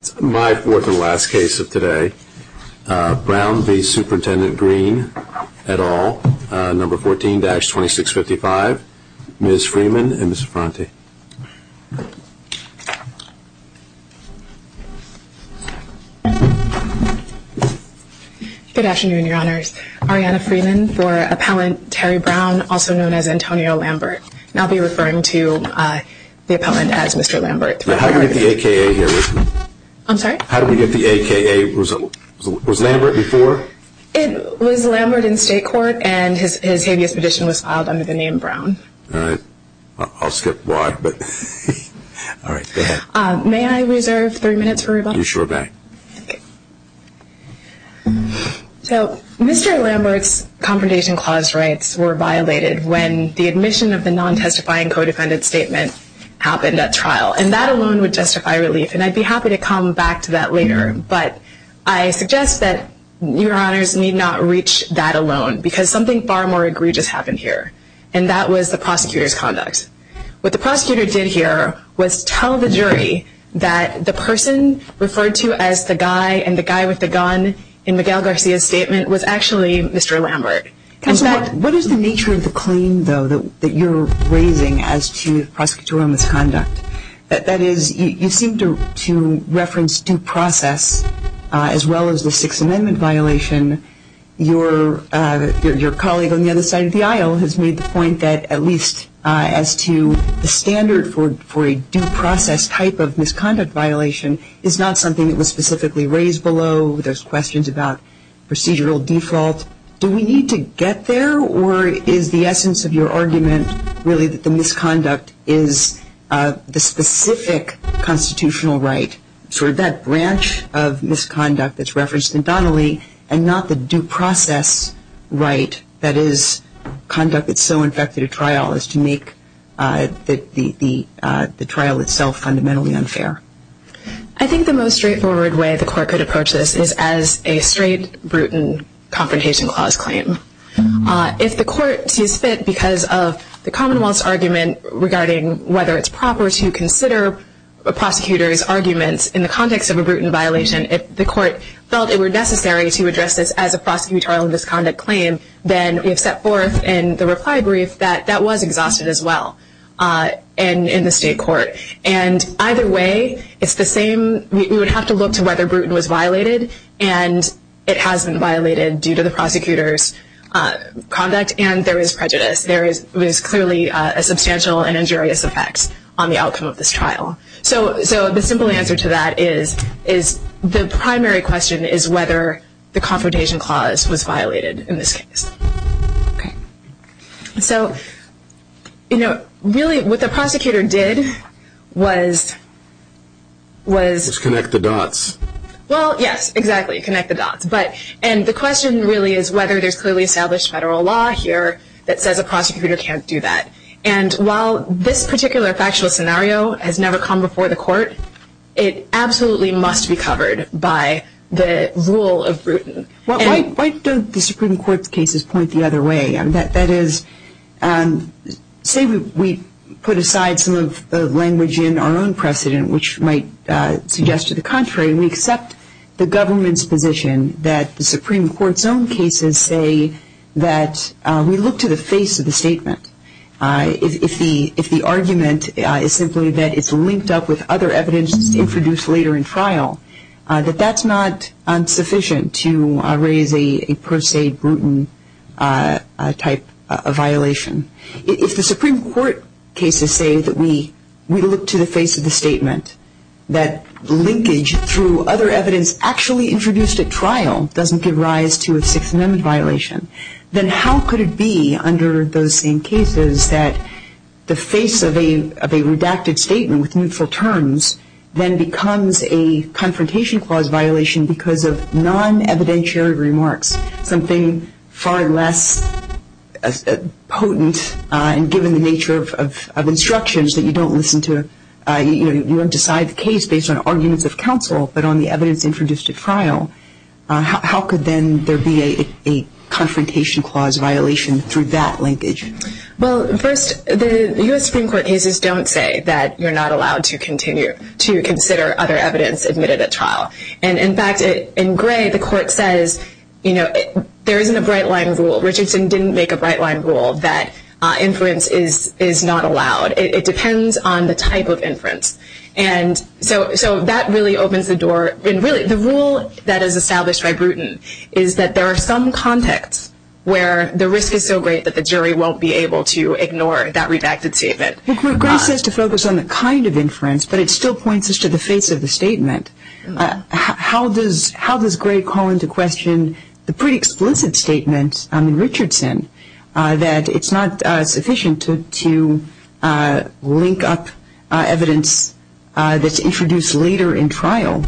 It's my fourth and last case of today. Brown v. Superintendent Greene, et al., number 14-2655. Ms. Freeman and Ms. Franti. Good afternoon, your honors. Ariana Freeman for Appellant Terry Brown, also known as Antonio Lambert. And I'll be referring to the appellant as Mr. Lambert. How did we get the AKA here? I'm sorry? How did we get the AKA? Was Lambert before? It was Lambert in state court and his habeas petition was filed under the name Brown. All right. I'll skip why, but all right, go ahead. May I reserve three minutes for rebuttal? You sure may. So Mr. Lambert's confrontation clause rights were violated when the admission of the non-testifying co-defendant statement happened at trial. And that alone would justify relief, and I'd be happy to come back to that later. But I suggest that your honors need not reach that alone, because something far more egregious happened here, and that was the prosecutor's conduct. What the prosecutor did here was tell the jury that the person referred to as the guy and the guy with the gun in Miguel Garcia's statement was actually Mr. Lambert. What is the nature of the claim, though, that you're raising as to prosecutorial misconduct? That is, you seem to reference due process as well as the Sixth Amendment violation. Your colleague on the other side of the aisle has made the point that at least as to the standard for a due process type of misconduct violation is not something that was specifically raised below. There's questions about procedural default. Do we need to get there, or is the essence of your argument really that the misconduct is the specific constitutional right, sort of that branch of misconduct that's referenced in Donnelly, and not the due process right, that is, conduct that's so infected at trial as to make the trial itself fundamentally unfair? I think the most straightforward way the court could approach this is as a straight, brutal, confrontation clause claim. If the court sees fit, because of the Commonwealth's argument regarding whether it's proper to consider a prosecutor's arguments in the context of a brutal violation, if the court felt it were necessary to address this as a prosecutorial misconduct claim, then we have set forth in the reply brief that that was exhausted as well in the state court. Either way, we would have to look to whether Bruton was violated, and it hasn't violated due to the prosecutor's conduct, and there is prejudice. There is clearly a substantial and injurious effect on the outcome of this trial. The simple answer to that is the primary question is whether the confrontation clause was violated in this case. So, you know, really what the prosecutor did was... Connect the dots. Well, yes, exactly, connect the dots. And the question really is whether there's clearly established federal law here that says a prosecutor can't do that. And while this particular factual scenario has never come before the court, it absolutely must be covered by the rule of Bruton. Why don't the Supreme Court's cases point the other way? That is, say we put aside some of the language in our own precedent which might suggest to the contrary, we accept the government's position that the Supreme Court's own cases say that we look to the face of the statement. If the argument is simply that it's linked up with other evidence introduced later in trial, that that's not insufficient to raise a per se Bruton type of violation. If the Supreme Court cases say that we look to the face of the statement, that linkage through other evidence actually introduced at trial doesn't give rise to a Sixth Amendment violation, then how could it be under those same cases that the face of a redacted statement with mutual terms then becomes a confrontation clause violation because of non-evidentiary remarks, something far less potent given the nature of instructions that you don't listen to. You don't decide the case based on arguments of counsel but on the evidence introduced at trial. How could then there be a confrontation clause violation through that linkage? Well, first, the U.S. Supreme Court cases don't say that you're not allowed to continue to consider other evidence admitted at trial. And in fact, in gray, the court says, you know, there isn't a bright line rule. Richardson didn't make a bright line rule that inference is not allowed. It depends on the type of inference. And so that really opens the door. And really, the rule that is established by Bruton is that there are some contexts where the risk is so great that the jury won't be able to ignore that redacted statement. Gray says to focus on the kind of inference, but it still points us to the face of the statement. How does Gray call into question the pretty explicit statement in Richardson that it's not sufficient to link up evidence that's introduced later in trial?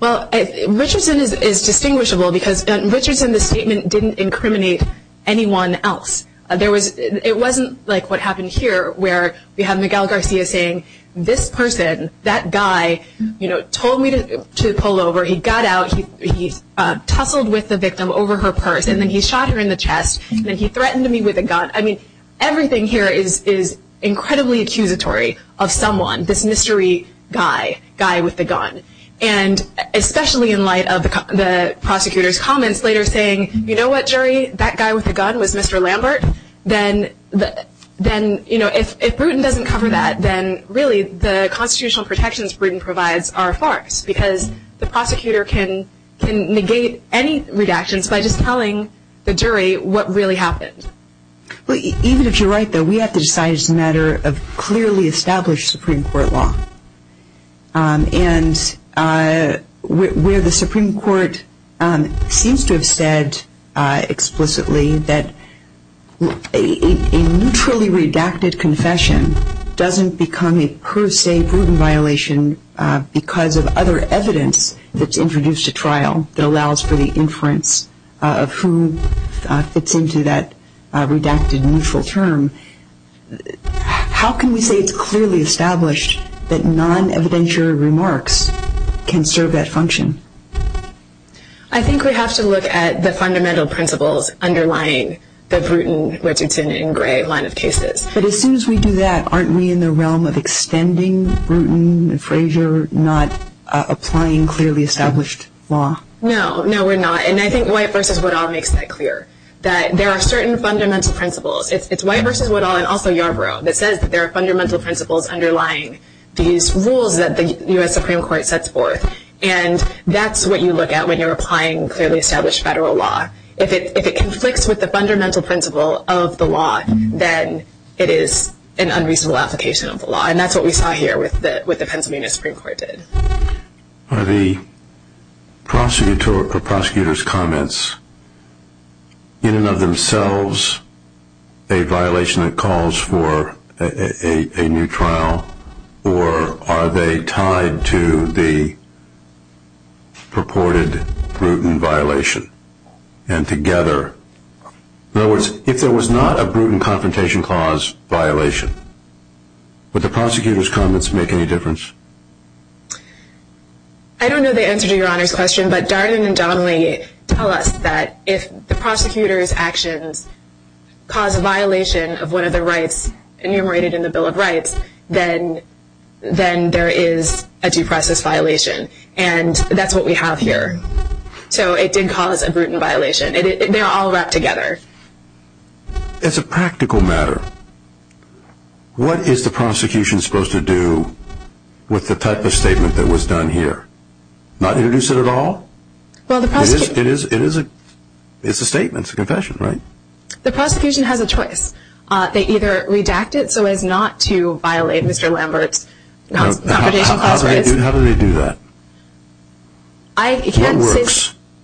Well, Richardson is distinguishable because in Richardson, the statement didn't incriminate anyone else. It wasn't like what happened here where we have Miguel Garcia saying, this person, that guy, you know, told me to pull over. He got out. He tussled with the victim over her purse, and then he shot her in the chest, and then he threatened me with a gun. I mean, everything here is incredibly accusatory of someone, this mystery guy, guy with the gun. And especially in light of the prosecutor's comments later saying, you know what, jury? That guy with the gun was Mr. Lambert. Then, you know, if Bruton doesn't cover that, then really the constitutional protections Bruton provides are farce Even if you're right, though, we have to decide it's a matter of clearly established Supreme Court law. And where the Supreme Court seems to have said explicitly that a neutrally redacted confession doesn't become a per se Bruton violation because of other evidence that's introduced at trial that allows for the inference of who fits into that redacted neutral term. How can we say it's clearly established that non-evidentiary remarks can serve that function? I think we have to look at the fundamental principles underlying the Bruton, Richardson, and Gray line of cases. But as soon as we do that, aren't we in the realm of extending Bruton and Frazier, not applying clearly established law? No, no, we're not. And I think White v. Woodall makes that clear, that there are certain fundamental principles. It's White v. Woodall and also Yarbrough that says that there are fundamental principles underlying these rules that the U.S. Supreme Court sets forth. And that's what you look at when you're applying clearly established federal law. If it conflicts with the fundamental principle of the law, then it is an unreasonable application of the law. And that's what we saw here with the Pennsylvania Supreme Court did. Are the prosecutor's comments in and of themselves a violation that calls for a new trial, or are they tied to the purported Bruton violation? And together, in other words, if there was not a Bruton Confrontation Clause violation, would the prosecutor's comments make any difference? I don't know the answer to Your Honor's question, but Darden and Donnelly tell us that if the prosecutor's actions cause a violation of one of the rights enumerated in the Bill of Rights, then there is a due process violation. And that's what we have here. So it did cause a Bruton violation. They're all wrapped together. As a practical matter, what is the prosecution supposed to do with the type of statement that was done here? Not introduce it at all? It's a statement, it's a confession, right? The prosecution has a choice. They either redact it so as not to violate Mr. Lambert's Confrontation Clause. How do they do that?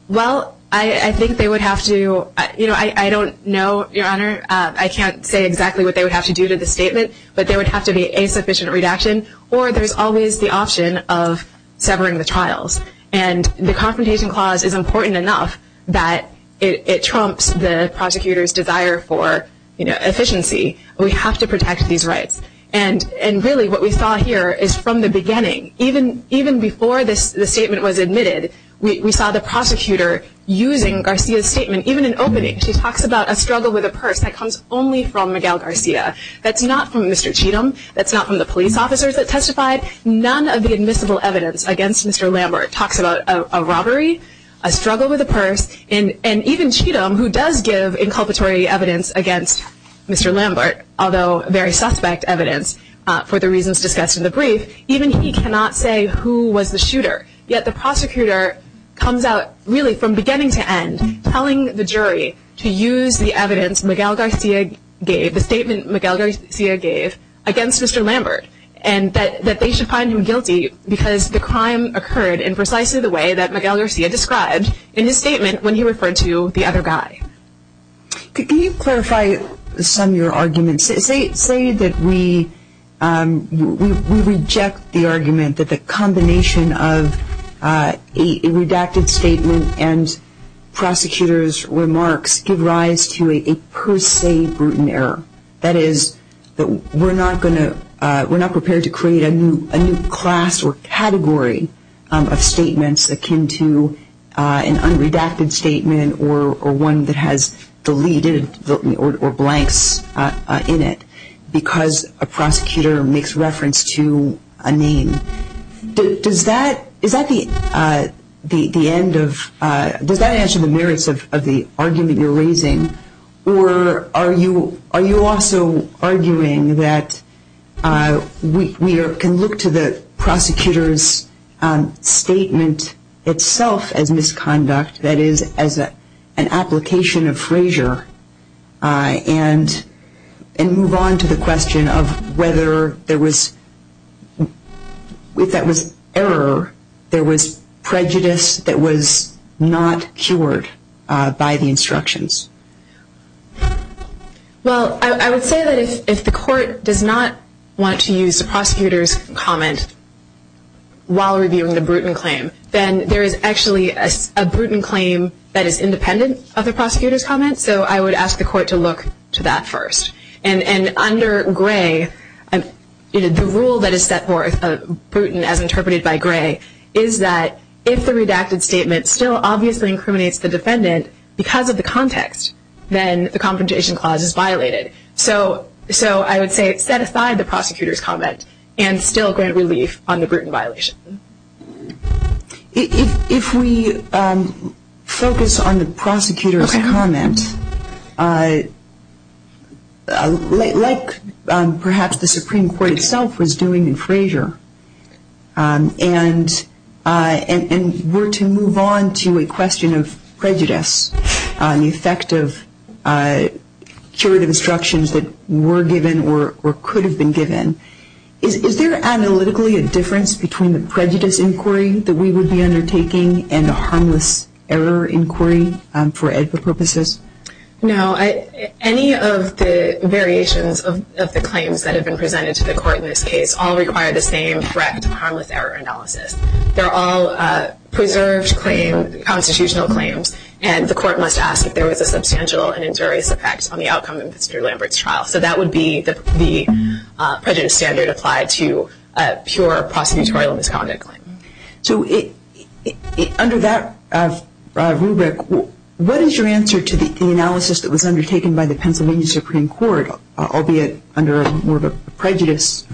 Well, I think they would have to, you know, I don't know, Your Honor, I can't say exactly what they would have to do to the statement, but there would have to be a sufficient redaction, or there's always the option of severing the trials. And the Confrontation Clause is important enough that it trumps the prosecutor's desire for efficiency. We have to protect these rights. And really what we saw here is from the beginning, even before the statement was admitted, we saw the prosecutor using Garcia's statement, even in opening. She talks about a struggle with a purse that comes only from Miguel Garcia. That's not from Mr. Cheatham. That's not from the police officers that testified. None of the admissible evidence against Mr. Lambert talks about a robbery, a struggle with a purse, and even Cheatham, who does give inculpatory evidence against Mr. Lambert, although very suspect evidence for the reasons discussed in the brief, even he cannot say who was the shooter. Yet the prosecutor comes out really from beginning to end telling the jury to use the evidence Miguel Garcia gave, the statement Miguel Garcia gave against Mr. Lambert, and that they should find him guilty because the crime occurred in precisely the way that Miguel Garcia described in his statement when he referred to the other guy. Can you clarify some of your arguments? Say that we reject the argument that the combination of a redacted statement and prosecutors' remarks give rise to a per se brutal error. That is that we're not prepared to create a new class or category of statements akin to an unredacted statement or one that has deleted or blanks in it because a prosecutor makes reference to a name. Does that answer the merits of the argument you're raising, or are you also arguing that we can look to the prosecutor's statement itself as misconduct, that is as an application of frasier, and move on to the question of whether there was, if that was error, there was prejudice that was not cured by the instructions? Well, I would say that if the court does not want to use the prosecutor's comment while reviewing the brutal claim, then there is actually a brutal claim that is independent of the prosecutor's comment, so I would ask the court to look to that first. And under Gray, the rule that is set forth, as interpreted by Gray, is that if the redacted statement still obviously incriminates the defendant because of the context, so I would say set aside the prosecutor's comment and still grant relief on the brutal violation. If we focus on the prosecutor's comment, like perhaps the Supreme Court itself was doing in frasier, and were to move on to a question of prejudice, the effect of curative instructions that were given or could have been given, is there analytically a difference between the prejudice inquiry that we would be undertaking and the harmless error inquiry for EDPA purposes? No. Any of the variations of the claims that have been presented to the court in this case all require the same correct harmless error analysis. They're all preserved constitutional claims, and the court must ask if there was a substantial and injurious effect on the outcome of Mr. Lambert's trial. So that would be the prejudice standard applied to a pure prosecutorial misconduct claim. So under that rubric, what is your answer to the analysis that was undertaken by the Pennsylvania Supreme Court, albeit under more of a prejudice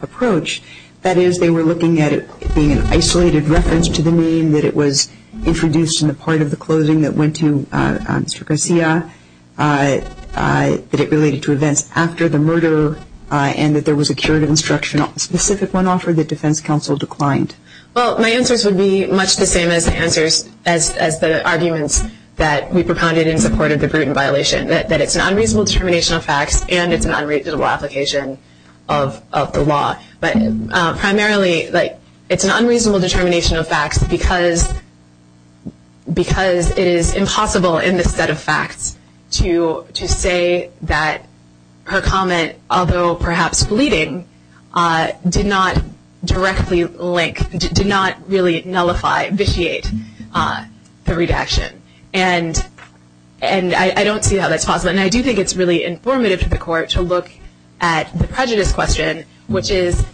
approach, that is they were looking at it being an isolated reference to the name, that it was introduced in the part of the closing that went to Mr. Garcia, that it related to events after the murder, and that there was a curative instruction, a specific one offered that defense counsel declined? Well, my answers would be much the same as the arguments that we propounded in support of the Bruton violation, that it's an unreasonable determination of facts and it's an unreasonable application of the law. But primarily, it's an unreasonable determination of facts because it is impossible in this set of facts to say that her comment, although perhaps fleeting, did not directly link, did not really nullify, vitiate the redaction. And I don't see how that's possible. And I do think it's really informative to the court to look at the prejudice question, which is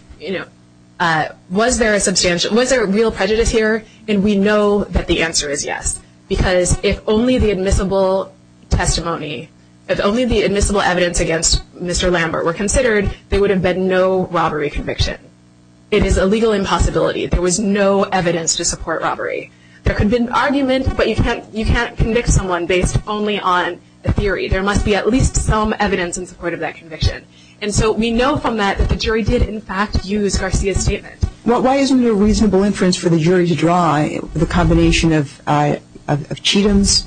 was there a substantial, was there a real prejudice here? And we know that the answer is yes, because if only the admissible testimony, if only the admissible evidence against Mr. Lambert were considered, there would have been no robbery conviction. It is a legal impossibility. There was no evidence to support robbery. There could be an argument, but you can't convict someone based only on a theory. There must be at least some evidence in support of that conviction. And so we know from that that the jury did, in fact, use Garcia's statement. Why isn't it a reasonable inference for the jury to draw the combination of Cheatham's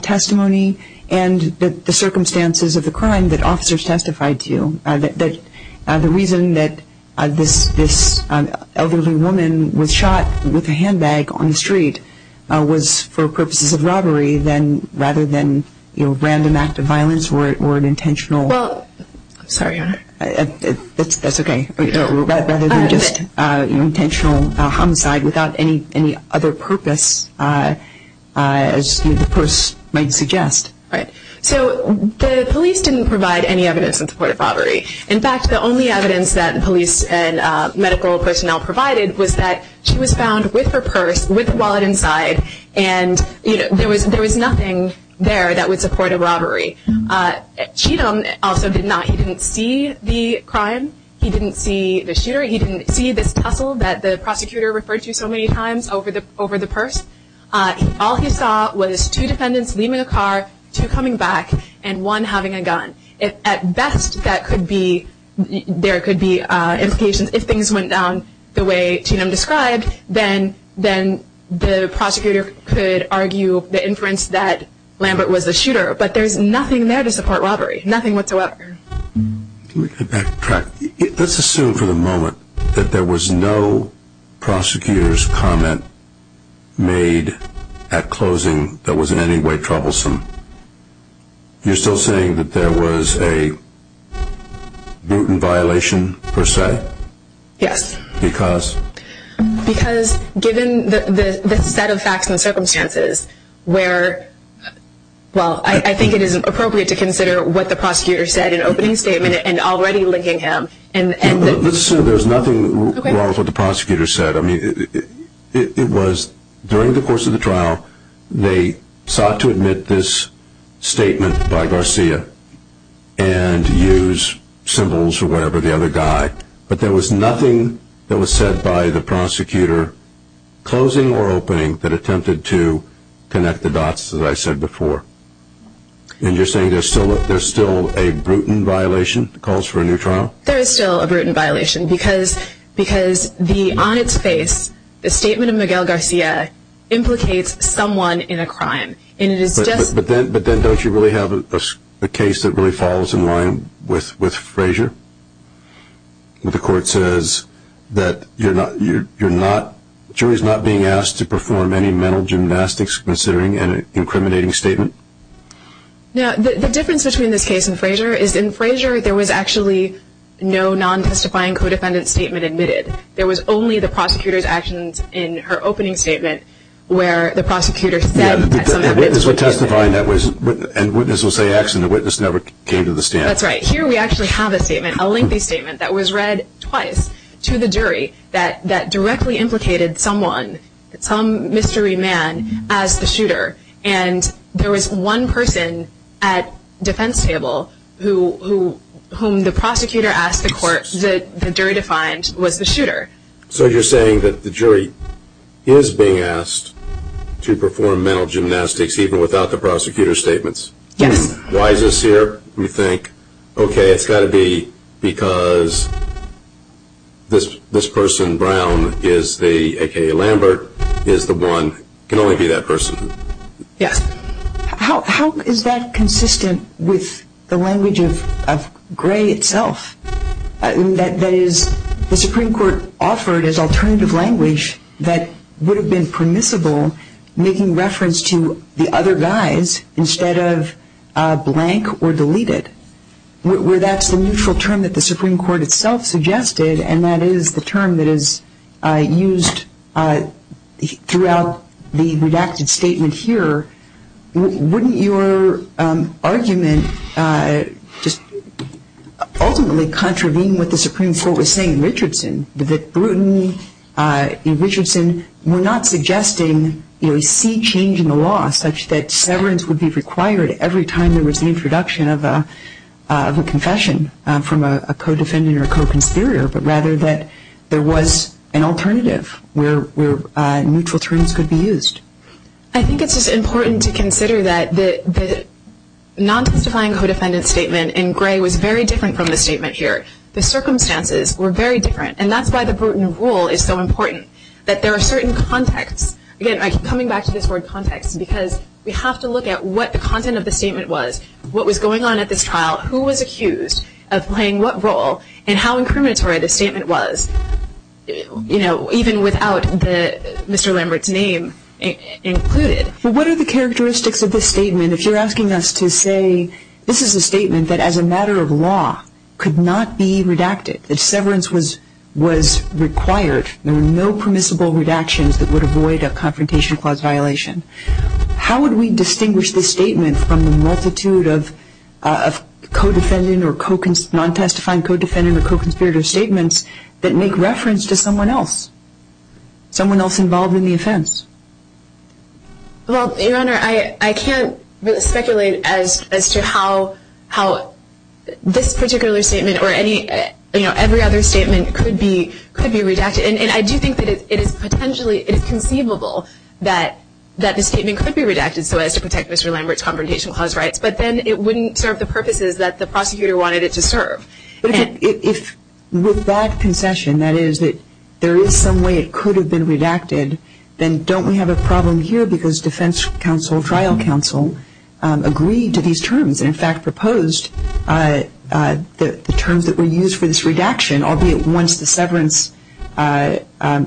testimony and the circumstances of the crime that officers testified to, that the reason that this elderly woman was shot with a handbag on the street was for purposes of robbery rather than random act of violence or an intentional? Well, I'm sorry, Your Honor. That's okay. Rather than just intentional homicide without any other purpose, as the purse might suggest. Right. So the police didn't provide any evidence in support of robbery. In fact, the only evidence that the police and medical personnel provided was that she was found with her purse, with her wallet inside, and there was nothing there that would support a robbery. Cheatham also did not. He didn't see the crime. He didn't see the shooter. He didn't see this tussle that the prosecutor referred to so many times over the purse. All he saw was two defendants leaving a car, two coming back, and one having a gun. At best, there could be implications. If things went down the way Cheatham described, then the prosecutor could argue the inference that Lambert was the shooter. But there's nothing there to support robbery, nothing whatsoever. Let me get back track. Let's assume for the moment that there was no prosecutor's comment made at closing that was in any way troublesome. You're still saying that there was a brutal violation per se? Yes. Because? Because given the set of facts and circumstances where, well, I think it is appropriate to consider what the prosecutor said in opening statement and already linking him. Let's assume there's nothing wrong with what the prosecutor said. I mean, it was during the course of the trial, they sought to admit this statement by Garcia and use symbols or whatever, the other guy, but there was nothing that was said by the prosecutor, closing or opening, that attempted to connect the dots, as I said before. And you're saying there's still a brutal violation that calls for a new trial? There is still a brutal violation because on its face, the statement of Miguel Garcia implicates someone in a crime. But then don't you really have a case that really falls in line with Frazier? The court says that you're not, the jury is not being asked to perform any mental gymnastics considering an incriminating statement? The difference between this case and Frazier is in Frazier, there was actually no non-testifying co-defendant statement admitted. There was only the prosecutor's actions in her opening statement where the prosecutor said the witness would testify and the witness would say X and the witness never came to the stand. That's right. Here we actually have a statement, a lengthy statement, that was read twice to the jury that directly implicated someone, some mystery man, as the shooter. And there was one person at defense table whom the prosecutor asked the court, the jury defined, was the shooter. So you're saying that the jury is being asked to perform mental gymnastics even without the prosecutor's statements? Yes. Why is this here? We think, okay, it's got to be because this person, Brown, is the, aka Lambert, is the one, can only be that person. Yes. How is that consistent with the language of Gray itself? That is, the Supreme Court offered as alternative language that would have been permissible, making reference to the other guys instead of blank or deleted, where that's the neutral term that the Supreme Court itself suggested and that is the term that is used throughout the redacted statement here. Wouldn't your argument just ultimately contravene what the Supreme Court was saying in Richardson, that Bruton and Richardson were not suggesting a sea change in the law such that severance would be required every time there was an introduction of a confession from a co-defendant or a co-conspirator, but rather that there was an alternative where neutral terms could be used? I think it's just important to consider that the non-testifying co-defendant statement in Gray was very different from the statement here. The circumstances were very different, and that's why the Bruton rule is so important, that there are certain contexts. Again, I keep coming back to this word context because we have to look at what the content of the statement was, what was going on at this trial, who was accused of playing what role, and how incriminatory the statement was, even without Mr. Lambert's name included. What are the characteristics of this statement if you're asking us to say this is a statement that as a matter of law could not be redacted, that severance was required, there were no permissible redactions that would avoid a confrontation clause violation. How would we distinguish this statement from the multitude of co-defendant or non-testifying co-defendant or co-conspirator statements that make reference to someone else, someone else involved in the offense? Well, Your Honor, I can't speculate as to how this particular statement or every other statement could be redacted, and I do think that it is conceivable that the statement could be redacted so as to protect Mr. Lambert's confrontational clause rights, but then it wouldn't serve the purposes that the prosecutor wanted it to serve. If with that concession, that is, that there is some way it could have been redacted, then don't we have a problem here because defense counsel, trial counsel, agreed to these terms and in fact proposed the terms that were used for this redaction, albeit once the severance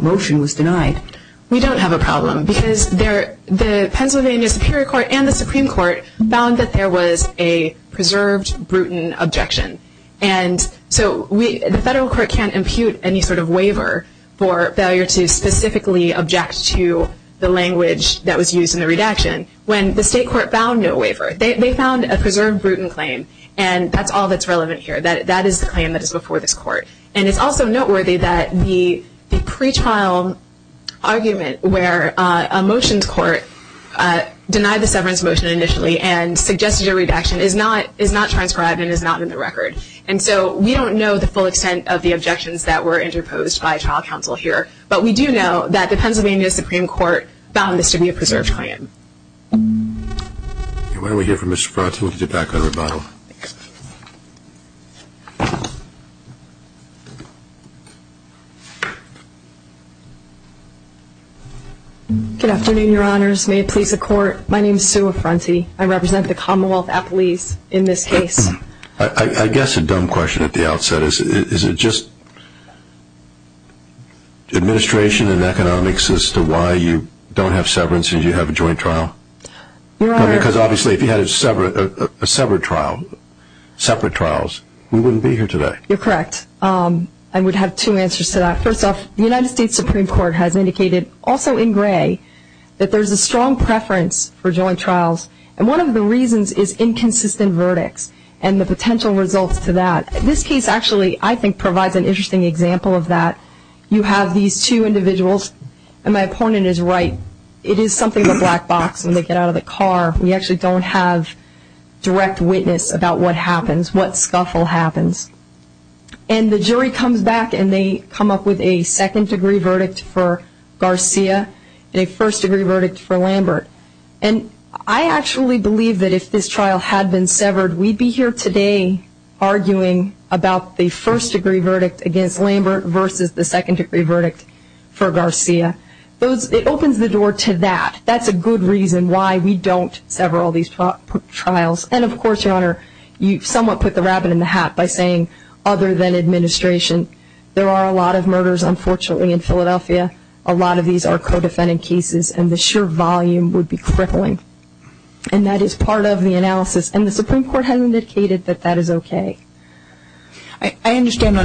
motion was denied? We don't have a problem because the Pennsylvania Superior Court and the Supreme Court found that there was a preserved Bruton objection, and so the federal court can't impute any sort of waiver for failure to specifically object to the language that was used in the redaction. When the state court found no waiver, they found a preserved Bruton claim, and that's all that's relevant here. That is the claim that is before this court, and it's also noteworthy that the pretrial argument where a motions court denied the severance motion initially and suggested a redaction is not transcribed and is not in the record, and so we don't know the full extent of the objections that were interposed by trial counsel here, but we do know that the Pennsylvania Supreme Court found this to be a preserved claim. Why don't we hear from Mr. Frott, and we'll get back on rebuttal. Good afternoon, Your Honors. May it please the Court, my name is Sue Affronti. I represent the Commonwealth Appellees in this case. I guess a dumb question at the outset. Is it just administration and economics as to why you don't have severance and you have a joint trial? Your Honor. Because obviously if you had a severed trial, separate trials, we wouldn't be here today. You're correct. I would have two answers to that. First off, the United States Supreme Court has indicated, also in gray, that there's a strong preference for joint trials, and one of the reasons is inconsistent verdicts and the potential results to that. This case actually, I think, provides an interesting example of that. You have these two individuals, and my opponent is right. It is something of a black box when they get out of the car. We actually don't have direct witness about what happens, what scuffle happens. And the jury comes back and they come up with a second-degree verdict for Garcia and a first-degree verdict for Lambert. And I actually believe that if this trial had been severed, we'd be here today arguing about the first-degree verdict against Lambert versus the second-degree verdict for Garcia. It opens the door to that. That's a good reason why we don't sever all these trials. And, of course, Your Honor, you somewhat put the rabbit in the hat by saying, other than administration, there are a lot of murders, unfortunately, in Philadelphia. A lot of these are co-defendant cases, and the sheer volume would be crippling. And that is part of the analysis. And the Supreme Court has indicated that that is okay. I understand,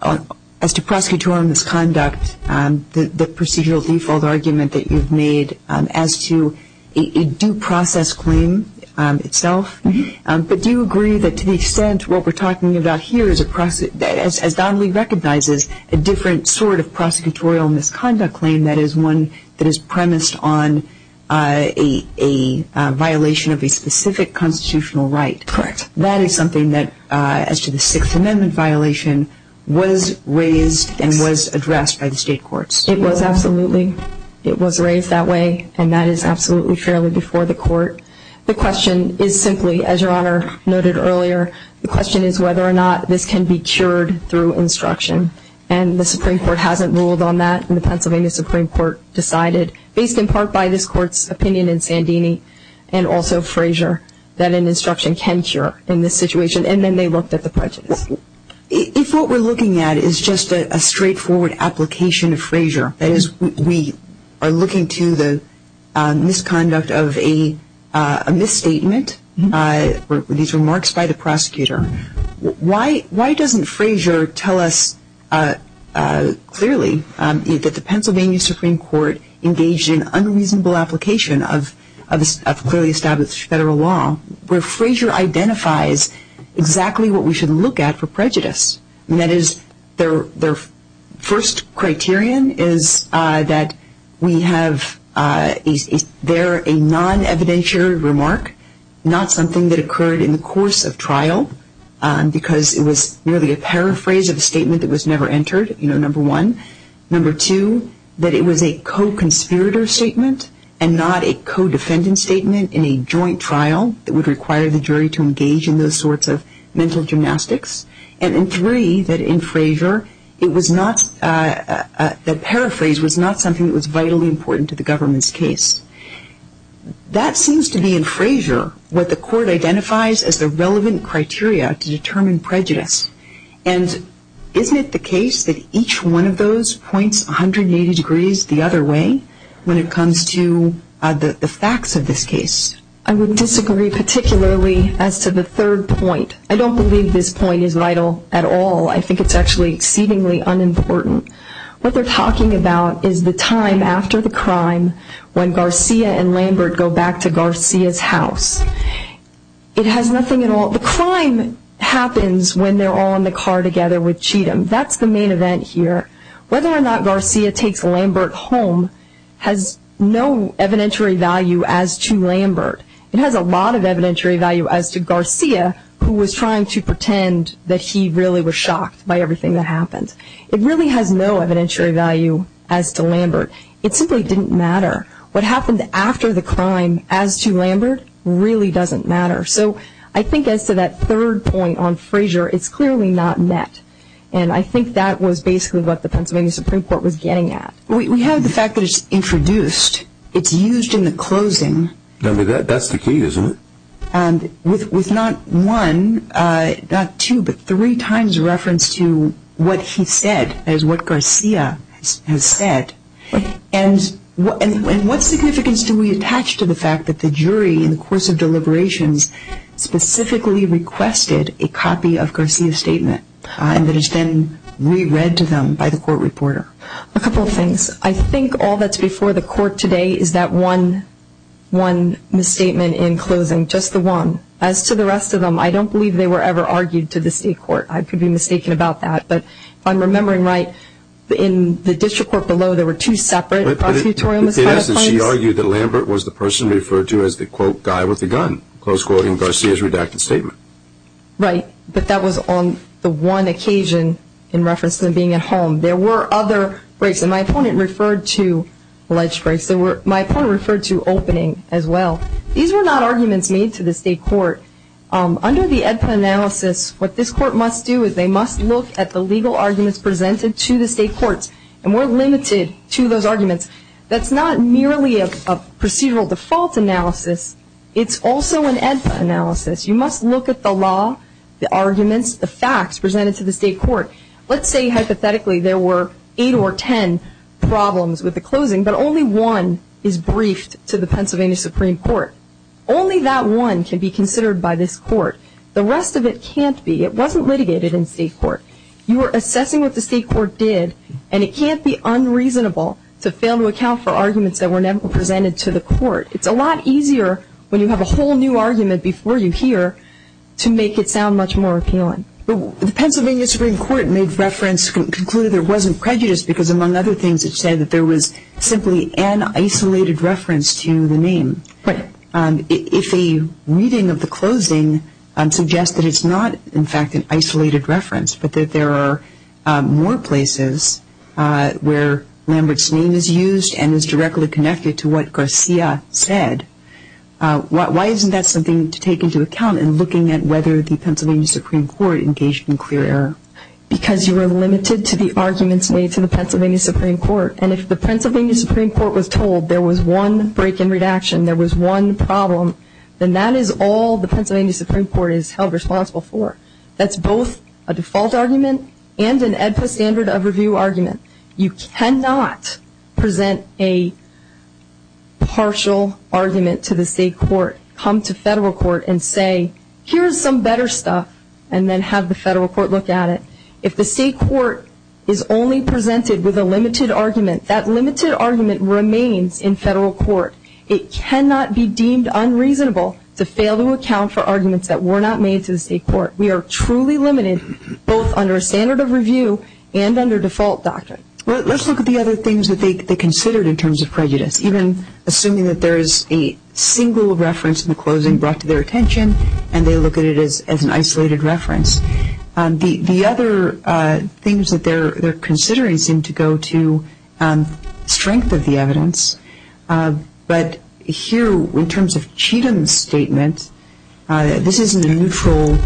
as to prosecutorial misconduct, the procedural default argument that you've made as to a due process claim itself. But do you agree that to the extent what we're talking about here is, as Donnelly recognizes, a different sort of prosecutorial misconduct claim that is one that is premised on a violation of a specific constitutional right? Correct. That is something that, as to the Sixth Amendment violation, was raised and was addressed by the state courts. It was, absolutely. It was raised that way, and that is absolutely fairly before the court. The question is simply, as Your Honor noted earlier, the question is whether or not this can be cured through instruction. And the Supreme Court hasn't ruled on that, and the Pennsylvania Supreme Court decided, based in part by this Court's opinion in Sandini and also Frazier, that an instruction can cure in this situation. And then they looked at the prejudice. If what we're looking at is just a straightforward application of Frazier, that is, we are looking to the misconduct of a misstatement, these remarks by the prosecutor, why doesn't Frazier tell us clearly that the Pennsylvania Supreme Court engaged in unreasonable application of clearly established federal law, where Frazier identifies exactly what we should look at for prejudice? That is, their first criterion is that we have there a non-evidentiary remark, not something that occurred in the course of trial, because it was merely a paraphrase of a statement that was never entered, number one. Number two, that it was a co-conspirator statement and not a co-defendant statement in a joint trial that would require the jury to engage in those sorts of mental gymnastics. And then three, that in Frazier it was not, that paraphrase was not something that was vitally important to the government's case. That seems to be, in Frazier, what the Court identifies as the relevant criteria to determine prejudice. And isn't it the case that each one of those points 180 degrees the other way when it comes to the facts of this case? I would disagree particularly as to the third point. I don't believe this point is vital at all. I think it's actually exceedingly unimportant. What they're talking about is the time after the crime when Garcia and Lambert go back to Garcia's house. The crime happens when they're all in the car together with Cheatham. That's the main event here. Whether or not Garcia takes Lambert home has no evidentiary value as to Lambert. It has a lot of evidentiary value as to Garcia who was trying to pretend that he really was shocked by everything that happened. It really has no evidentiary value as to Lambert. It simply didn't matter. What happened after the crime as to Lambert really doesn't matter. So I think as to that third point on Frazier, it's clearly not met. I think that was basically what the Pennsylvania Supreme Court was getting at. We have the fact that it's introduced. It's used in the closing. That's the key, isn't it? With not one, not two, but three times reference to what he said as what Garcia has said. What significance do we attach to the fact that the jury in the course of deliberations specifically requested a copy of Garcia's statement that has been re-read to them by the court reporter? A couple of things. I think all that's before the court today is that one misstatement in closing, just the one. As to the rest of them, I don't believe they were ever argued to the state court. I could be mistaken about that. But if I'm remembering right, in the district court below, there were two separate prosecutorial misconduct claims. She argued that Lambert was the person referred to as the, quote, guy with the gun, close quoting Garcia's redacted statement. Right, but that was on the one occasion in reference to him being at home. There were other breaks. And my opponent referred to alleged breaks. My opponent referred to opening as well. These were not arguments made to the state court. Under the EDPA analysis, what this court must do is they must look at the legal arguments presented to the state courts, and we're limited to those arguments. That's not merely a procedural default analysis. It's also an EDPA analysis. You must look at the law, the arguments, the facts presented to the state court. Let's say, hypothetically, there were eight or ten problems with the closing, but only one is briefed to the Pennsylvania Supreme Court. Only that one can be considered by this court. The rest of it can't be. It wasn't litigated in state court. You were assessing what the state court did, and it can't be unreasonable to fail to account for arguments that were never presented to the court. It's a lot easier when you have a whole new argument before you hear to make it sound much more appealing. The Pennsylvania Supreme Court made reference, concluded there wasn't prejudice because, among other things, it said that there was simply an isolated reference to the name. Right. If a reading of the closing suggests that it's not, in fact, an isolated reference, but that there are more places where Lambert's name is used and is directly connected to what Garcia said, why isn't that something to take into account in looking at whether the Pennsylvania Supreme Court engaged in clear error? Because you were limited to the arguments made to the Pennsylvania Supreme Court, and if the Pennsylvania Supreme Court was told there was one break in redaction, there was one problem, then that is all the Pennsylvania Supreme Court is held responsible for. That's both a default argument and an EDPA standard of review argument. You cannot present a partial argument to the state court, come to federal court, and say, here's some better stuff, and then have the federal court look at it. If the state court is only presented with a limited argument, that limited argument remains in federal court. We are truly limited both under a standard of review and under default doctrine. Let's look at the other things that they considered in terms of prejudice, even assuming that there is a single reference in the closing brought to their attention and they look at it as an isolated reference. The other things that they're considering seem to go to strength of the evidence, but here in terms of Cheatham's statement, this isn't a neutral,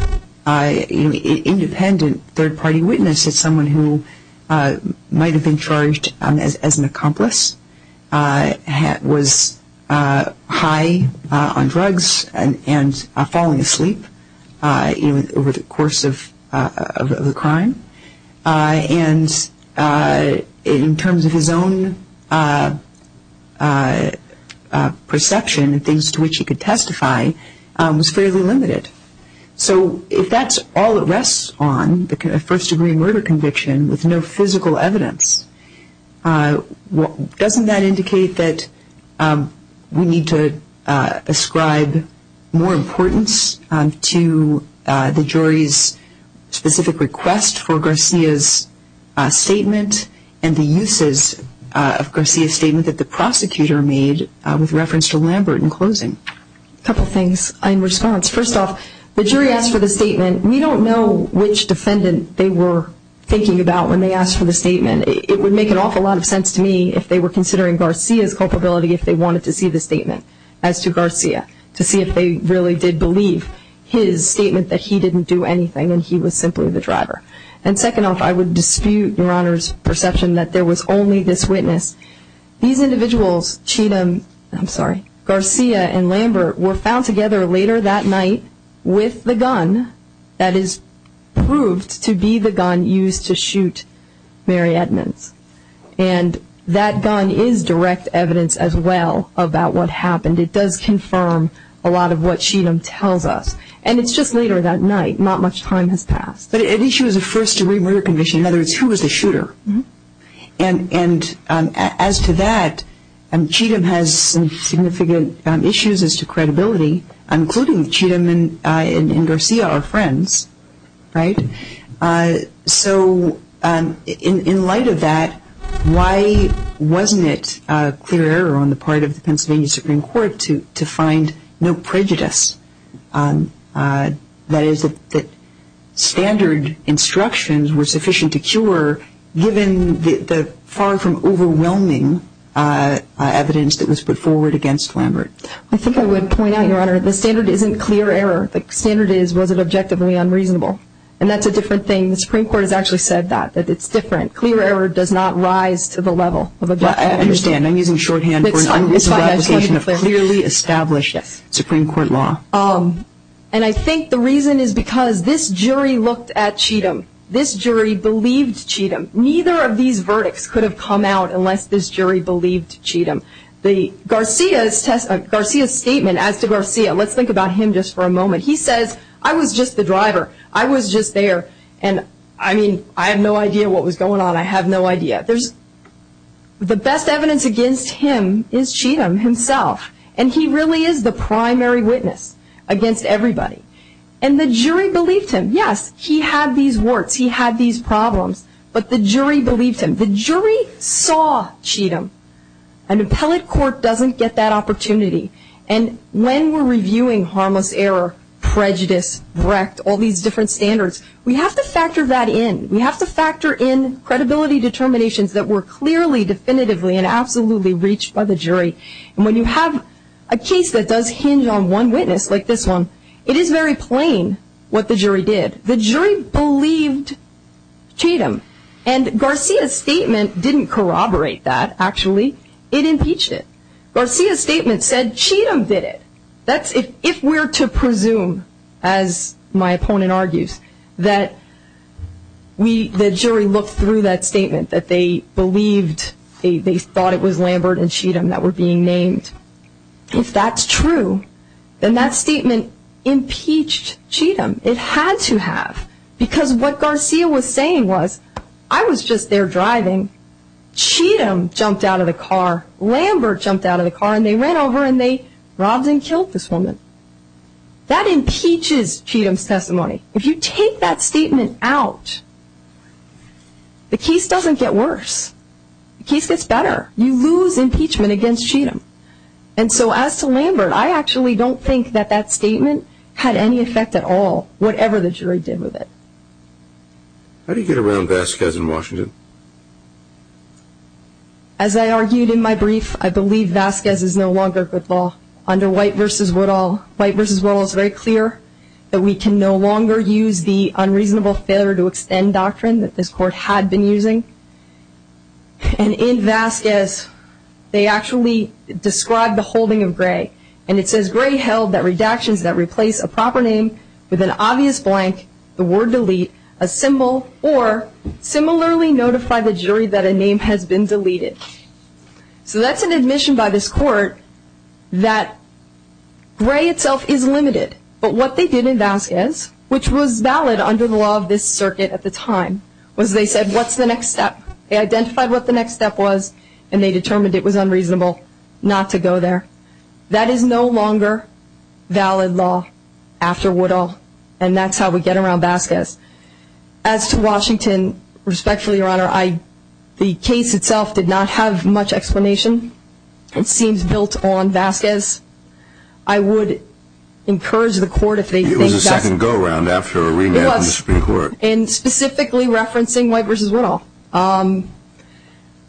independent third-party witness. It's someone who might have been charged as an accomplice, was high on drugs and falling asleep over the course of the crime. And in terms of his own perception and things to which he could testify, was fairly limited. So if that's all it rests on, a first-degree murder conviction with no physical evidence, doesn't that indicate that we need to ascribe more importance to the jury's specific request for Garcia's statement and the uses of Garcia's statement that the prosecutor made with reference to Lambert in closing? A couple things in response. First off, the jury asked for the statement. We don't know which defendant they were thinking about when they asked for the statement. It would make an awful lot of sense to me if they were considering Garcia's culpability if they wanted to see the statement as to Garcia, to see if they really did believe his statement that he didn't do anything and he was simply the driver. And second off, I would dispute Your Honor's perception that there was only this witness. These individuals, Garcia and Lambert, were found together later that night with the gun that is proved to be the gun used to shoot Mary Edmonds. And that gun is direct evidence as well about what happened. It does confirm a lot of what Cheatham tells us. And it's just later that night. Not much time has passed. But it issues a first-degree murder conviction. In other words, who was the shooter? And as to that, Cheatham has some significant issues as to credibility, including Cheatham and Garcia are friends, right? So in light of that, why wasn't it clear error on the part of the Pennsylvania Supreme Court to find no prejudice? That is, that standard instructions were sufficient to cure, given the far from overwhelming evidence that was put forward against Lambert. I think I would point out, Your Honor, the standard isn't clear error. The standard is was it objectively unreasonable. And that's a different thing. The Supreme Court has actually said that, that it's different. Clear error does not rise to the level of a definition. I understand. I'm using shorthand for an unreasonable application of clearly established Supreme Court law. And I think the reason is because this jury looked at Cheatham. This jury believed Cheatham. Neither of these verdicts could have come out unless this jury believed Cheatham. Garcia's statement as to Garcia, let's think about him just for a moment. He says, I was just the driver. I was just there. And, I mean, I have no idea what was going on. I have no idea. The best evidence against him is Cheatham himself. And he really is the primary witness against everybody. And the jury believed him. Yes, he had these warts. He had these problems. But the jury believed him. The jury saw Cheatham. An appellate court doesn't get that opportunity. And when we're reviewing harmless error, prejudice, wrecked, all these different standards, we have to factor that in. We have to factor in credibility determinations that were clearly, definitively, and absolutely reached by the jury. And when you have a case that does hinge on one witness, like this one, it is very plain what the jury did. The jury believed Cheatham. And Garcia's statement didn't corroborate that, actually. It impeached it. Garcia's statement said Cheatham did it. If we're to presume, as my opponent argues, that the jury looked through that statement, that they believed, they thought it was Lambert and Cheatham that were being named, if that's true, then that statement impeached Cheatham. It had to have. Because what Garcia was saying was, I was just there driving. Cheatham jumped out of the car. Lambert jumped out of the car. And they ran over and they robbed and killed this woman. That impeaches Cheatham's testimony. If you take that statement out, the case doesn't get worse. The case gets better. You lose impeachment against Cheatham. And so as to Lambert, I actually don't think that that statement had any effect at all, whatever the jury did with it. How do you get around Vasquez in Washington? As I argued in my brief, I believe Vasquez is no longer good law under White v. Woodall. White v. Woodall is very clear that we can no longer use the unreasonable failure to extend doctrine that this court had been using. And in Vasquez, they actually describe the holding of Gray. And it says Gray held that redactions that replace a proper name with an obvious blank, the word delete, a symbol, or similarly notify the jury that a name has been deleted. So that's an admission by this court that Gray itself is limited. But what they did in Vasquez, which was valid under the law of this circuit at the time, was they said, what's the next step? They identified what the next step was, and they determined it was unreasonable not to go there. That is no longer valid law after Woodall. And that's how we get around Vasquez. As to Washington, respectfully, Your Honor, the case itself did not have much explanation. It seems built on Vasquez. I would encourage the court if they think that's... It was a second go-round after a rematch in the Supreme Court. It was, and specifically referencing White v. Woodall.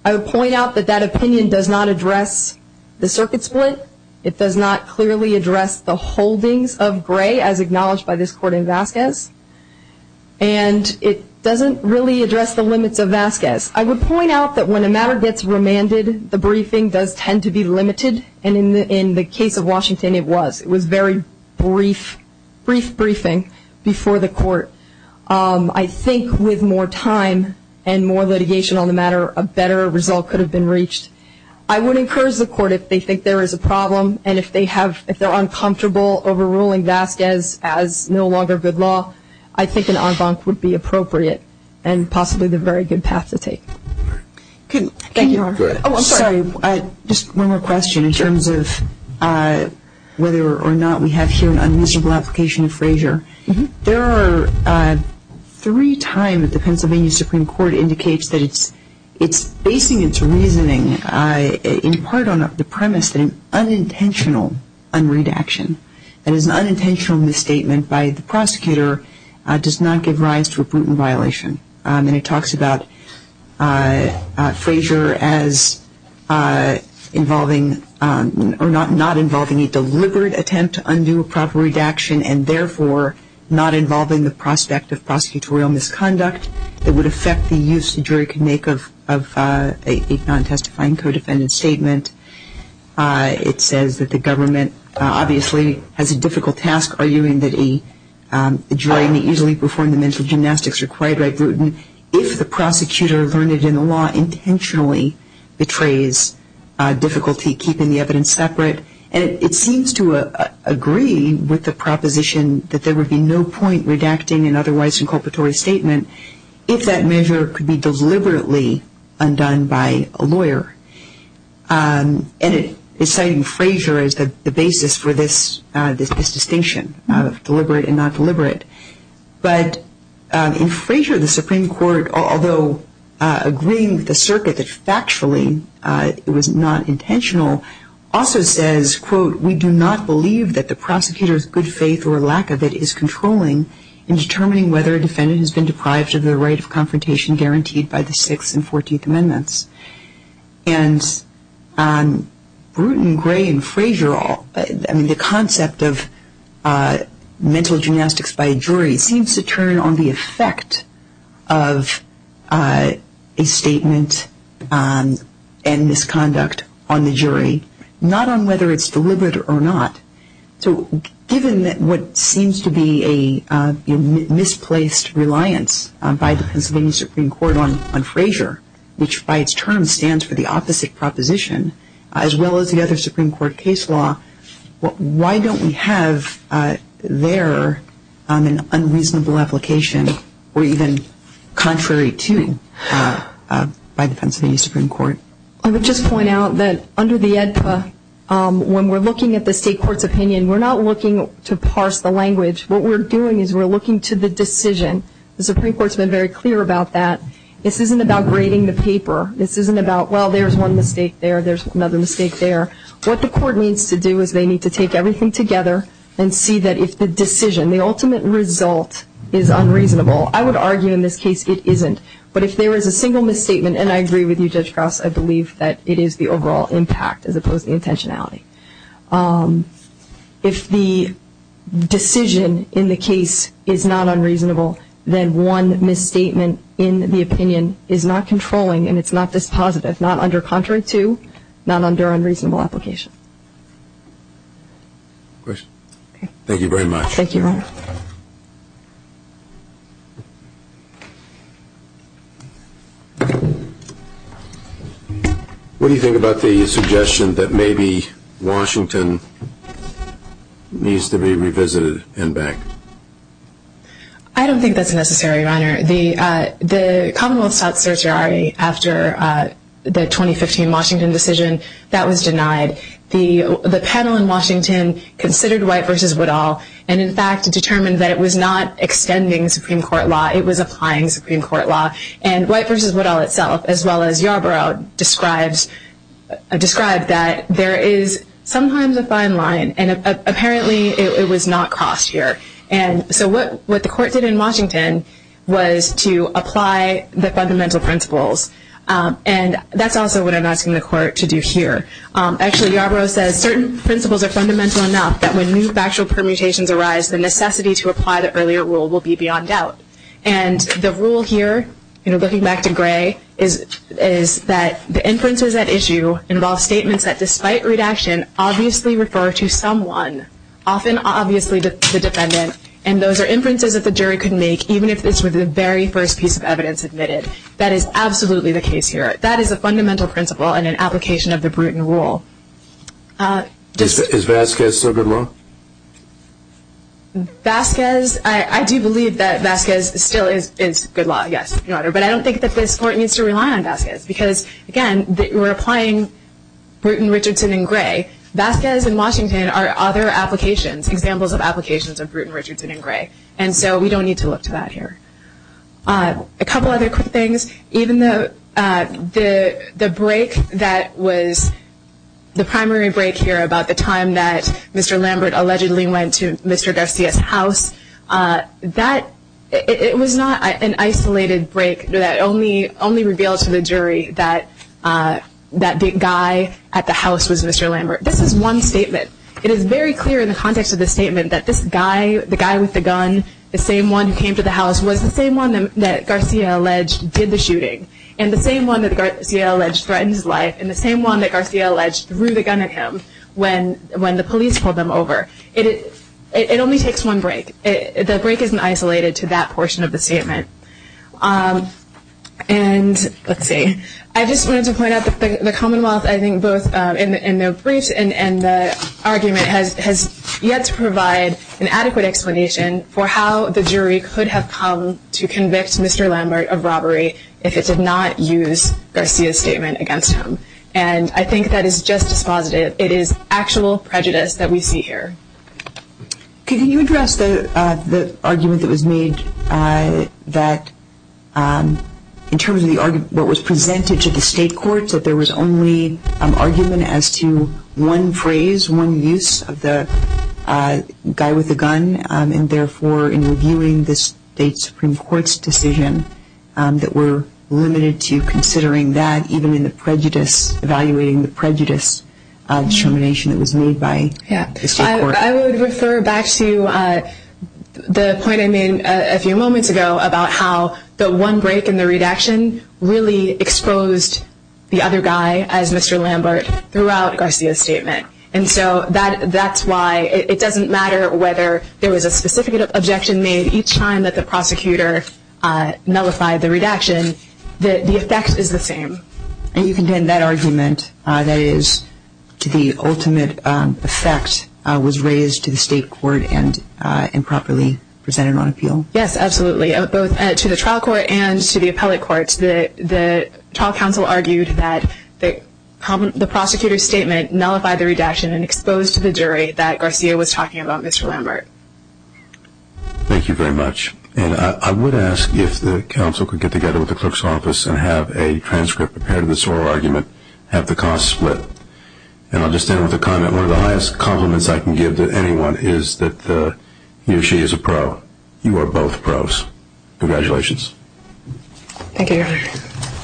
I would point out that that opinion does not address the circuit split. It does not clearly address the holdings of Gray as acknowledged by this court in Vasquez. And it doesn't really address the limits of Vasquez. I would point out that when a matter gets remanded, the briefing does tend to be limited. And in the case of Washington, it was. It was a very brief briefing before the court. I think with more time and more litigation on the matter, a better result could have been reached. I would encourage the court if they think there is a problem and if they're uncomfortable overruling Vasquez as no longer good law, I think an en banc would be appropriate and possibly the very good path to take. Thank you, Your Honor. Oh, I'm sorry. Just one more question in terms of whether or not we have here an unmeasurable application of Frazier. There are three times that the Pennsylvania Supreme Court indicates that it's basing its reasoning in part on the premise that an unintentional unredaction, that is an unintentional misstatement by the prosecutor does not give rise to a Bruton violation. And it talks about Frazier as involving or not involving a deliberate attempt to undo a proper redaction and therefore not involving the prospect of prosecutorial misconduct that would affect the use the jury could make of a non-testifying co-defendant statement. It says that the government obviously has a difficult task arguing that a jury may easily perform the mental gymnastics required by Bruton if the prosecutor learned it in the law intentionally betrays difficulty keeping the evidence separate. And it seems to agree with the proposition that there would be no point redacting an otherwise inculpatory statement if that measure could be deliberately undone by a lawyer. And it's citing Frazier as the basis for this distinction of deliberate and non-deliberate. But in Frazier, the Supreme Court, although agreeing with the circuit that factually it was not intentional, also says, quote, we do not believe that the prosecutor's good faith or lack of it is controlling in determining whether a defendant has been deprived of the right of confrontation guaranteed by the Sixth and Fourteenth Amendments. And Bruton, Gray, and Frazier all, I mean, the concept of mental gymnastics by a jury seems to turn on the effect of a statement and misconduct on the jury, not on whether it's deliberate or not. So given what seems to be a misplaced reliance by the Pennsylvania Supreme Court on Frazier, which by its term stands for the opposite proposition, as well as the other Supreme Court case law, why don't we have there an unreasonable application or even contrary to by the Pennsylvania Supreme Court? I would just point out that under the AEDPA, when we're looking at the state court's opinion, we're not looking to parse the language. What we're doing is we're looking to the decision. The Supreme Court's been very clear about that. This isn't about grading the paper. This isn't about, well, there's one mistake there, there's another mistake there. What the court needs to do is they need to take everything together and see that if the decision, the ultimate result, is unreasonable. I would argue in this case it isn't. But if there is a single misstatement, and I agree with you, Judge Krause, I believe that it is the overall impact as opposed to the intentionality. If the decision in the case is not unreasonable, then one misstatement in the opinion is not controlling and it's not dispositive, not under contrary to, not under unreasonable application. Thank you very much. Thank you, Your Honor. What do you think about the suggestion that maybe Washington needs to be revisited and back? The Commonwealth sought certiorari after the 2015 Washington decision. That was denied. The panel in Washington considered White v. Woodall and, in fact, determined that it was not extending Supreme Court law, it was applying Supreme Court law. And White v. Woodall itself, as well as Yarbrough, described that there is sometimes a fine line and apparently it was not crossed here. And so what the court did in Washington was to apply the fundamental principles. And that's also what I'm asking the court to do here. Actually, Yarbrough says certain principles are fundamental enough that when new factual permutations arise, the necessity to apply the earlier rule will be beyond doubt. And the rule here, looking back to Gray, is that the inferences at issue involve statements that, despite redaction, obviously refer to someone, often obviously the defendant. And those are inferences that the jury could make, even if it's with the very first piece of evidence admitted. That is absolutely the case here. That is a fundamental principle in an application of the Bruton rule. Is Vasquez still good law? Vasquez, I do believe that Vasquez still is good law, yes, Your Honor. But I don't think that this court needs to rely on Vasquez. Because, again, we're applying Bruton, Richardson, and Gray. Vasquez and Washington are other applications, examples of applications of Bruton, Richardson, and Gray. And so we don't need to look to that here. A couple other quick things. Even the break that was the primary break here about the time that Mr. Lambert allegedly went to Mr. Garcia's house, it was not an isolated break that only revealed to the jury that that big guy at the house was Mr. Lambert. This is one statement. It is very clear in the context of this statement that this guy, the guy with the gun, the same one who came to the house, was the same one that Garcia alleged did the shooting, and the same one that Garcia alleged threatened his life, and the same one that Garcia alleged threw the gun at him when the police pulled him over. It only takes one break. The break isn't isolated to that portion of the statement. And let's see. I just wanted to point out that the Commonwealth, I think, both in the briefs and the argument has yet to provide an adequate explanation for how the jury could have come to convict Mr. Lambert of robbery if it did not use Garcia's statement against him. And I think that is just as positive. It is actual prejudice that we see here. Can you address the argument that was made that in terms of what was presented to the state courts, that there was only argument as to one phrase, one use of the guy with the gun, and therefore in reviewing the state Supreme Court's decision that we're limited to considering that, even in evaluating the prejudice determination that was made by the state court? I would refer back to the point I made a few moments ago about how the one break in the redaction really exposed the other guy as Mr. Lambert throughout Garcia's statement. And so that's why it doesn't matter whether there was a specific objection made because each time that the prosecutor nullified the redaction, the effect is the same. And you contend that argument, that is, the ultimate effect was raised to the state court and improperly presented on appeal? Yes, absolutely, both to the trial court and to the appellate courts. The trial counsel argued that the prosecutor's statement nullified the redaction and exposed to the jury that Garcia was talking about Mr. Lambert. Thank you very much. And I would ask if the counsel could get together with the clerk's office and have a transcript prepared of this oral argument, have the costs split. And I'll just end with a comment. One of the highest compliments I can give to anyone is that he or she is a pro. You are both pros. Congratulations. Thank you, Your Honor.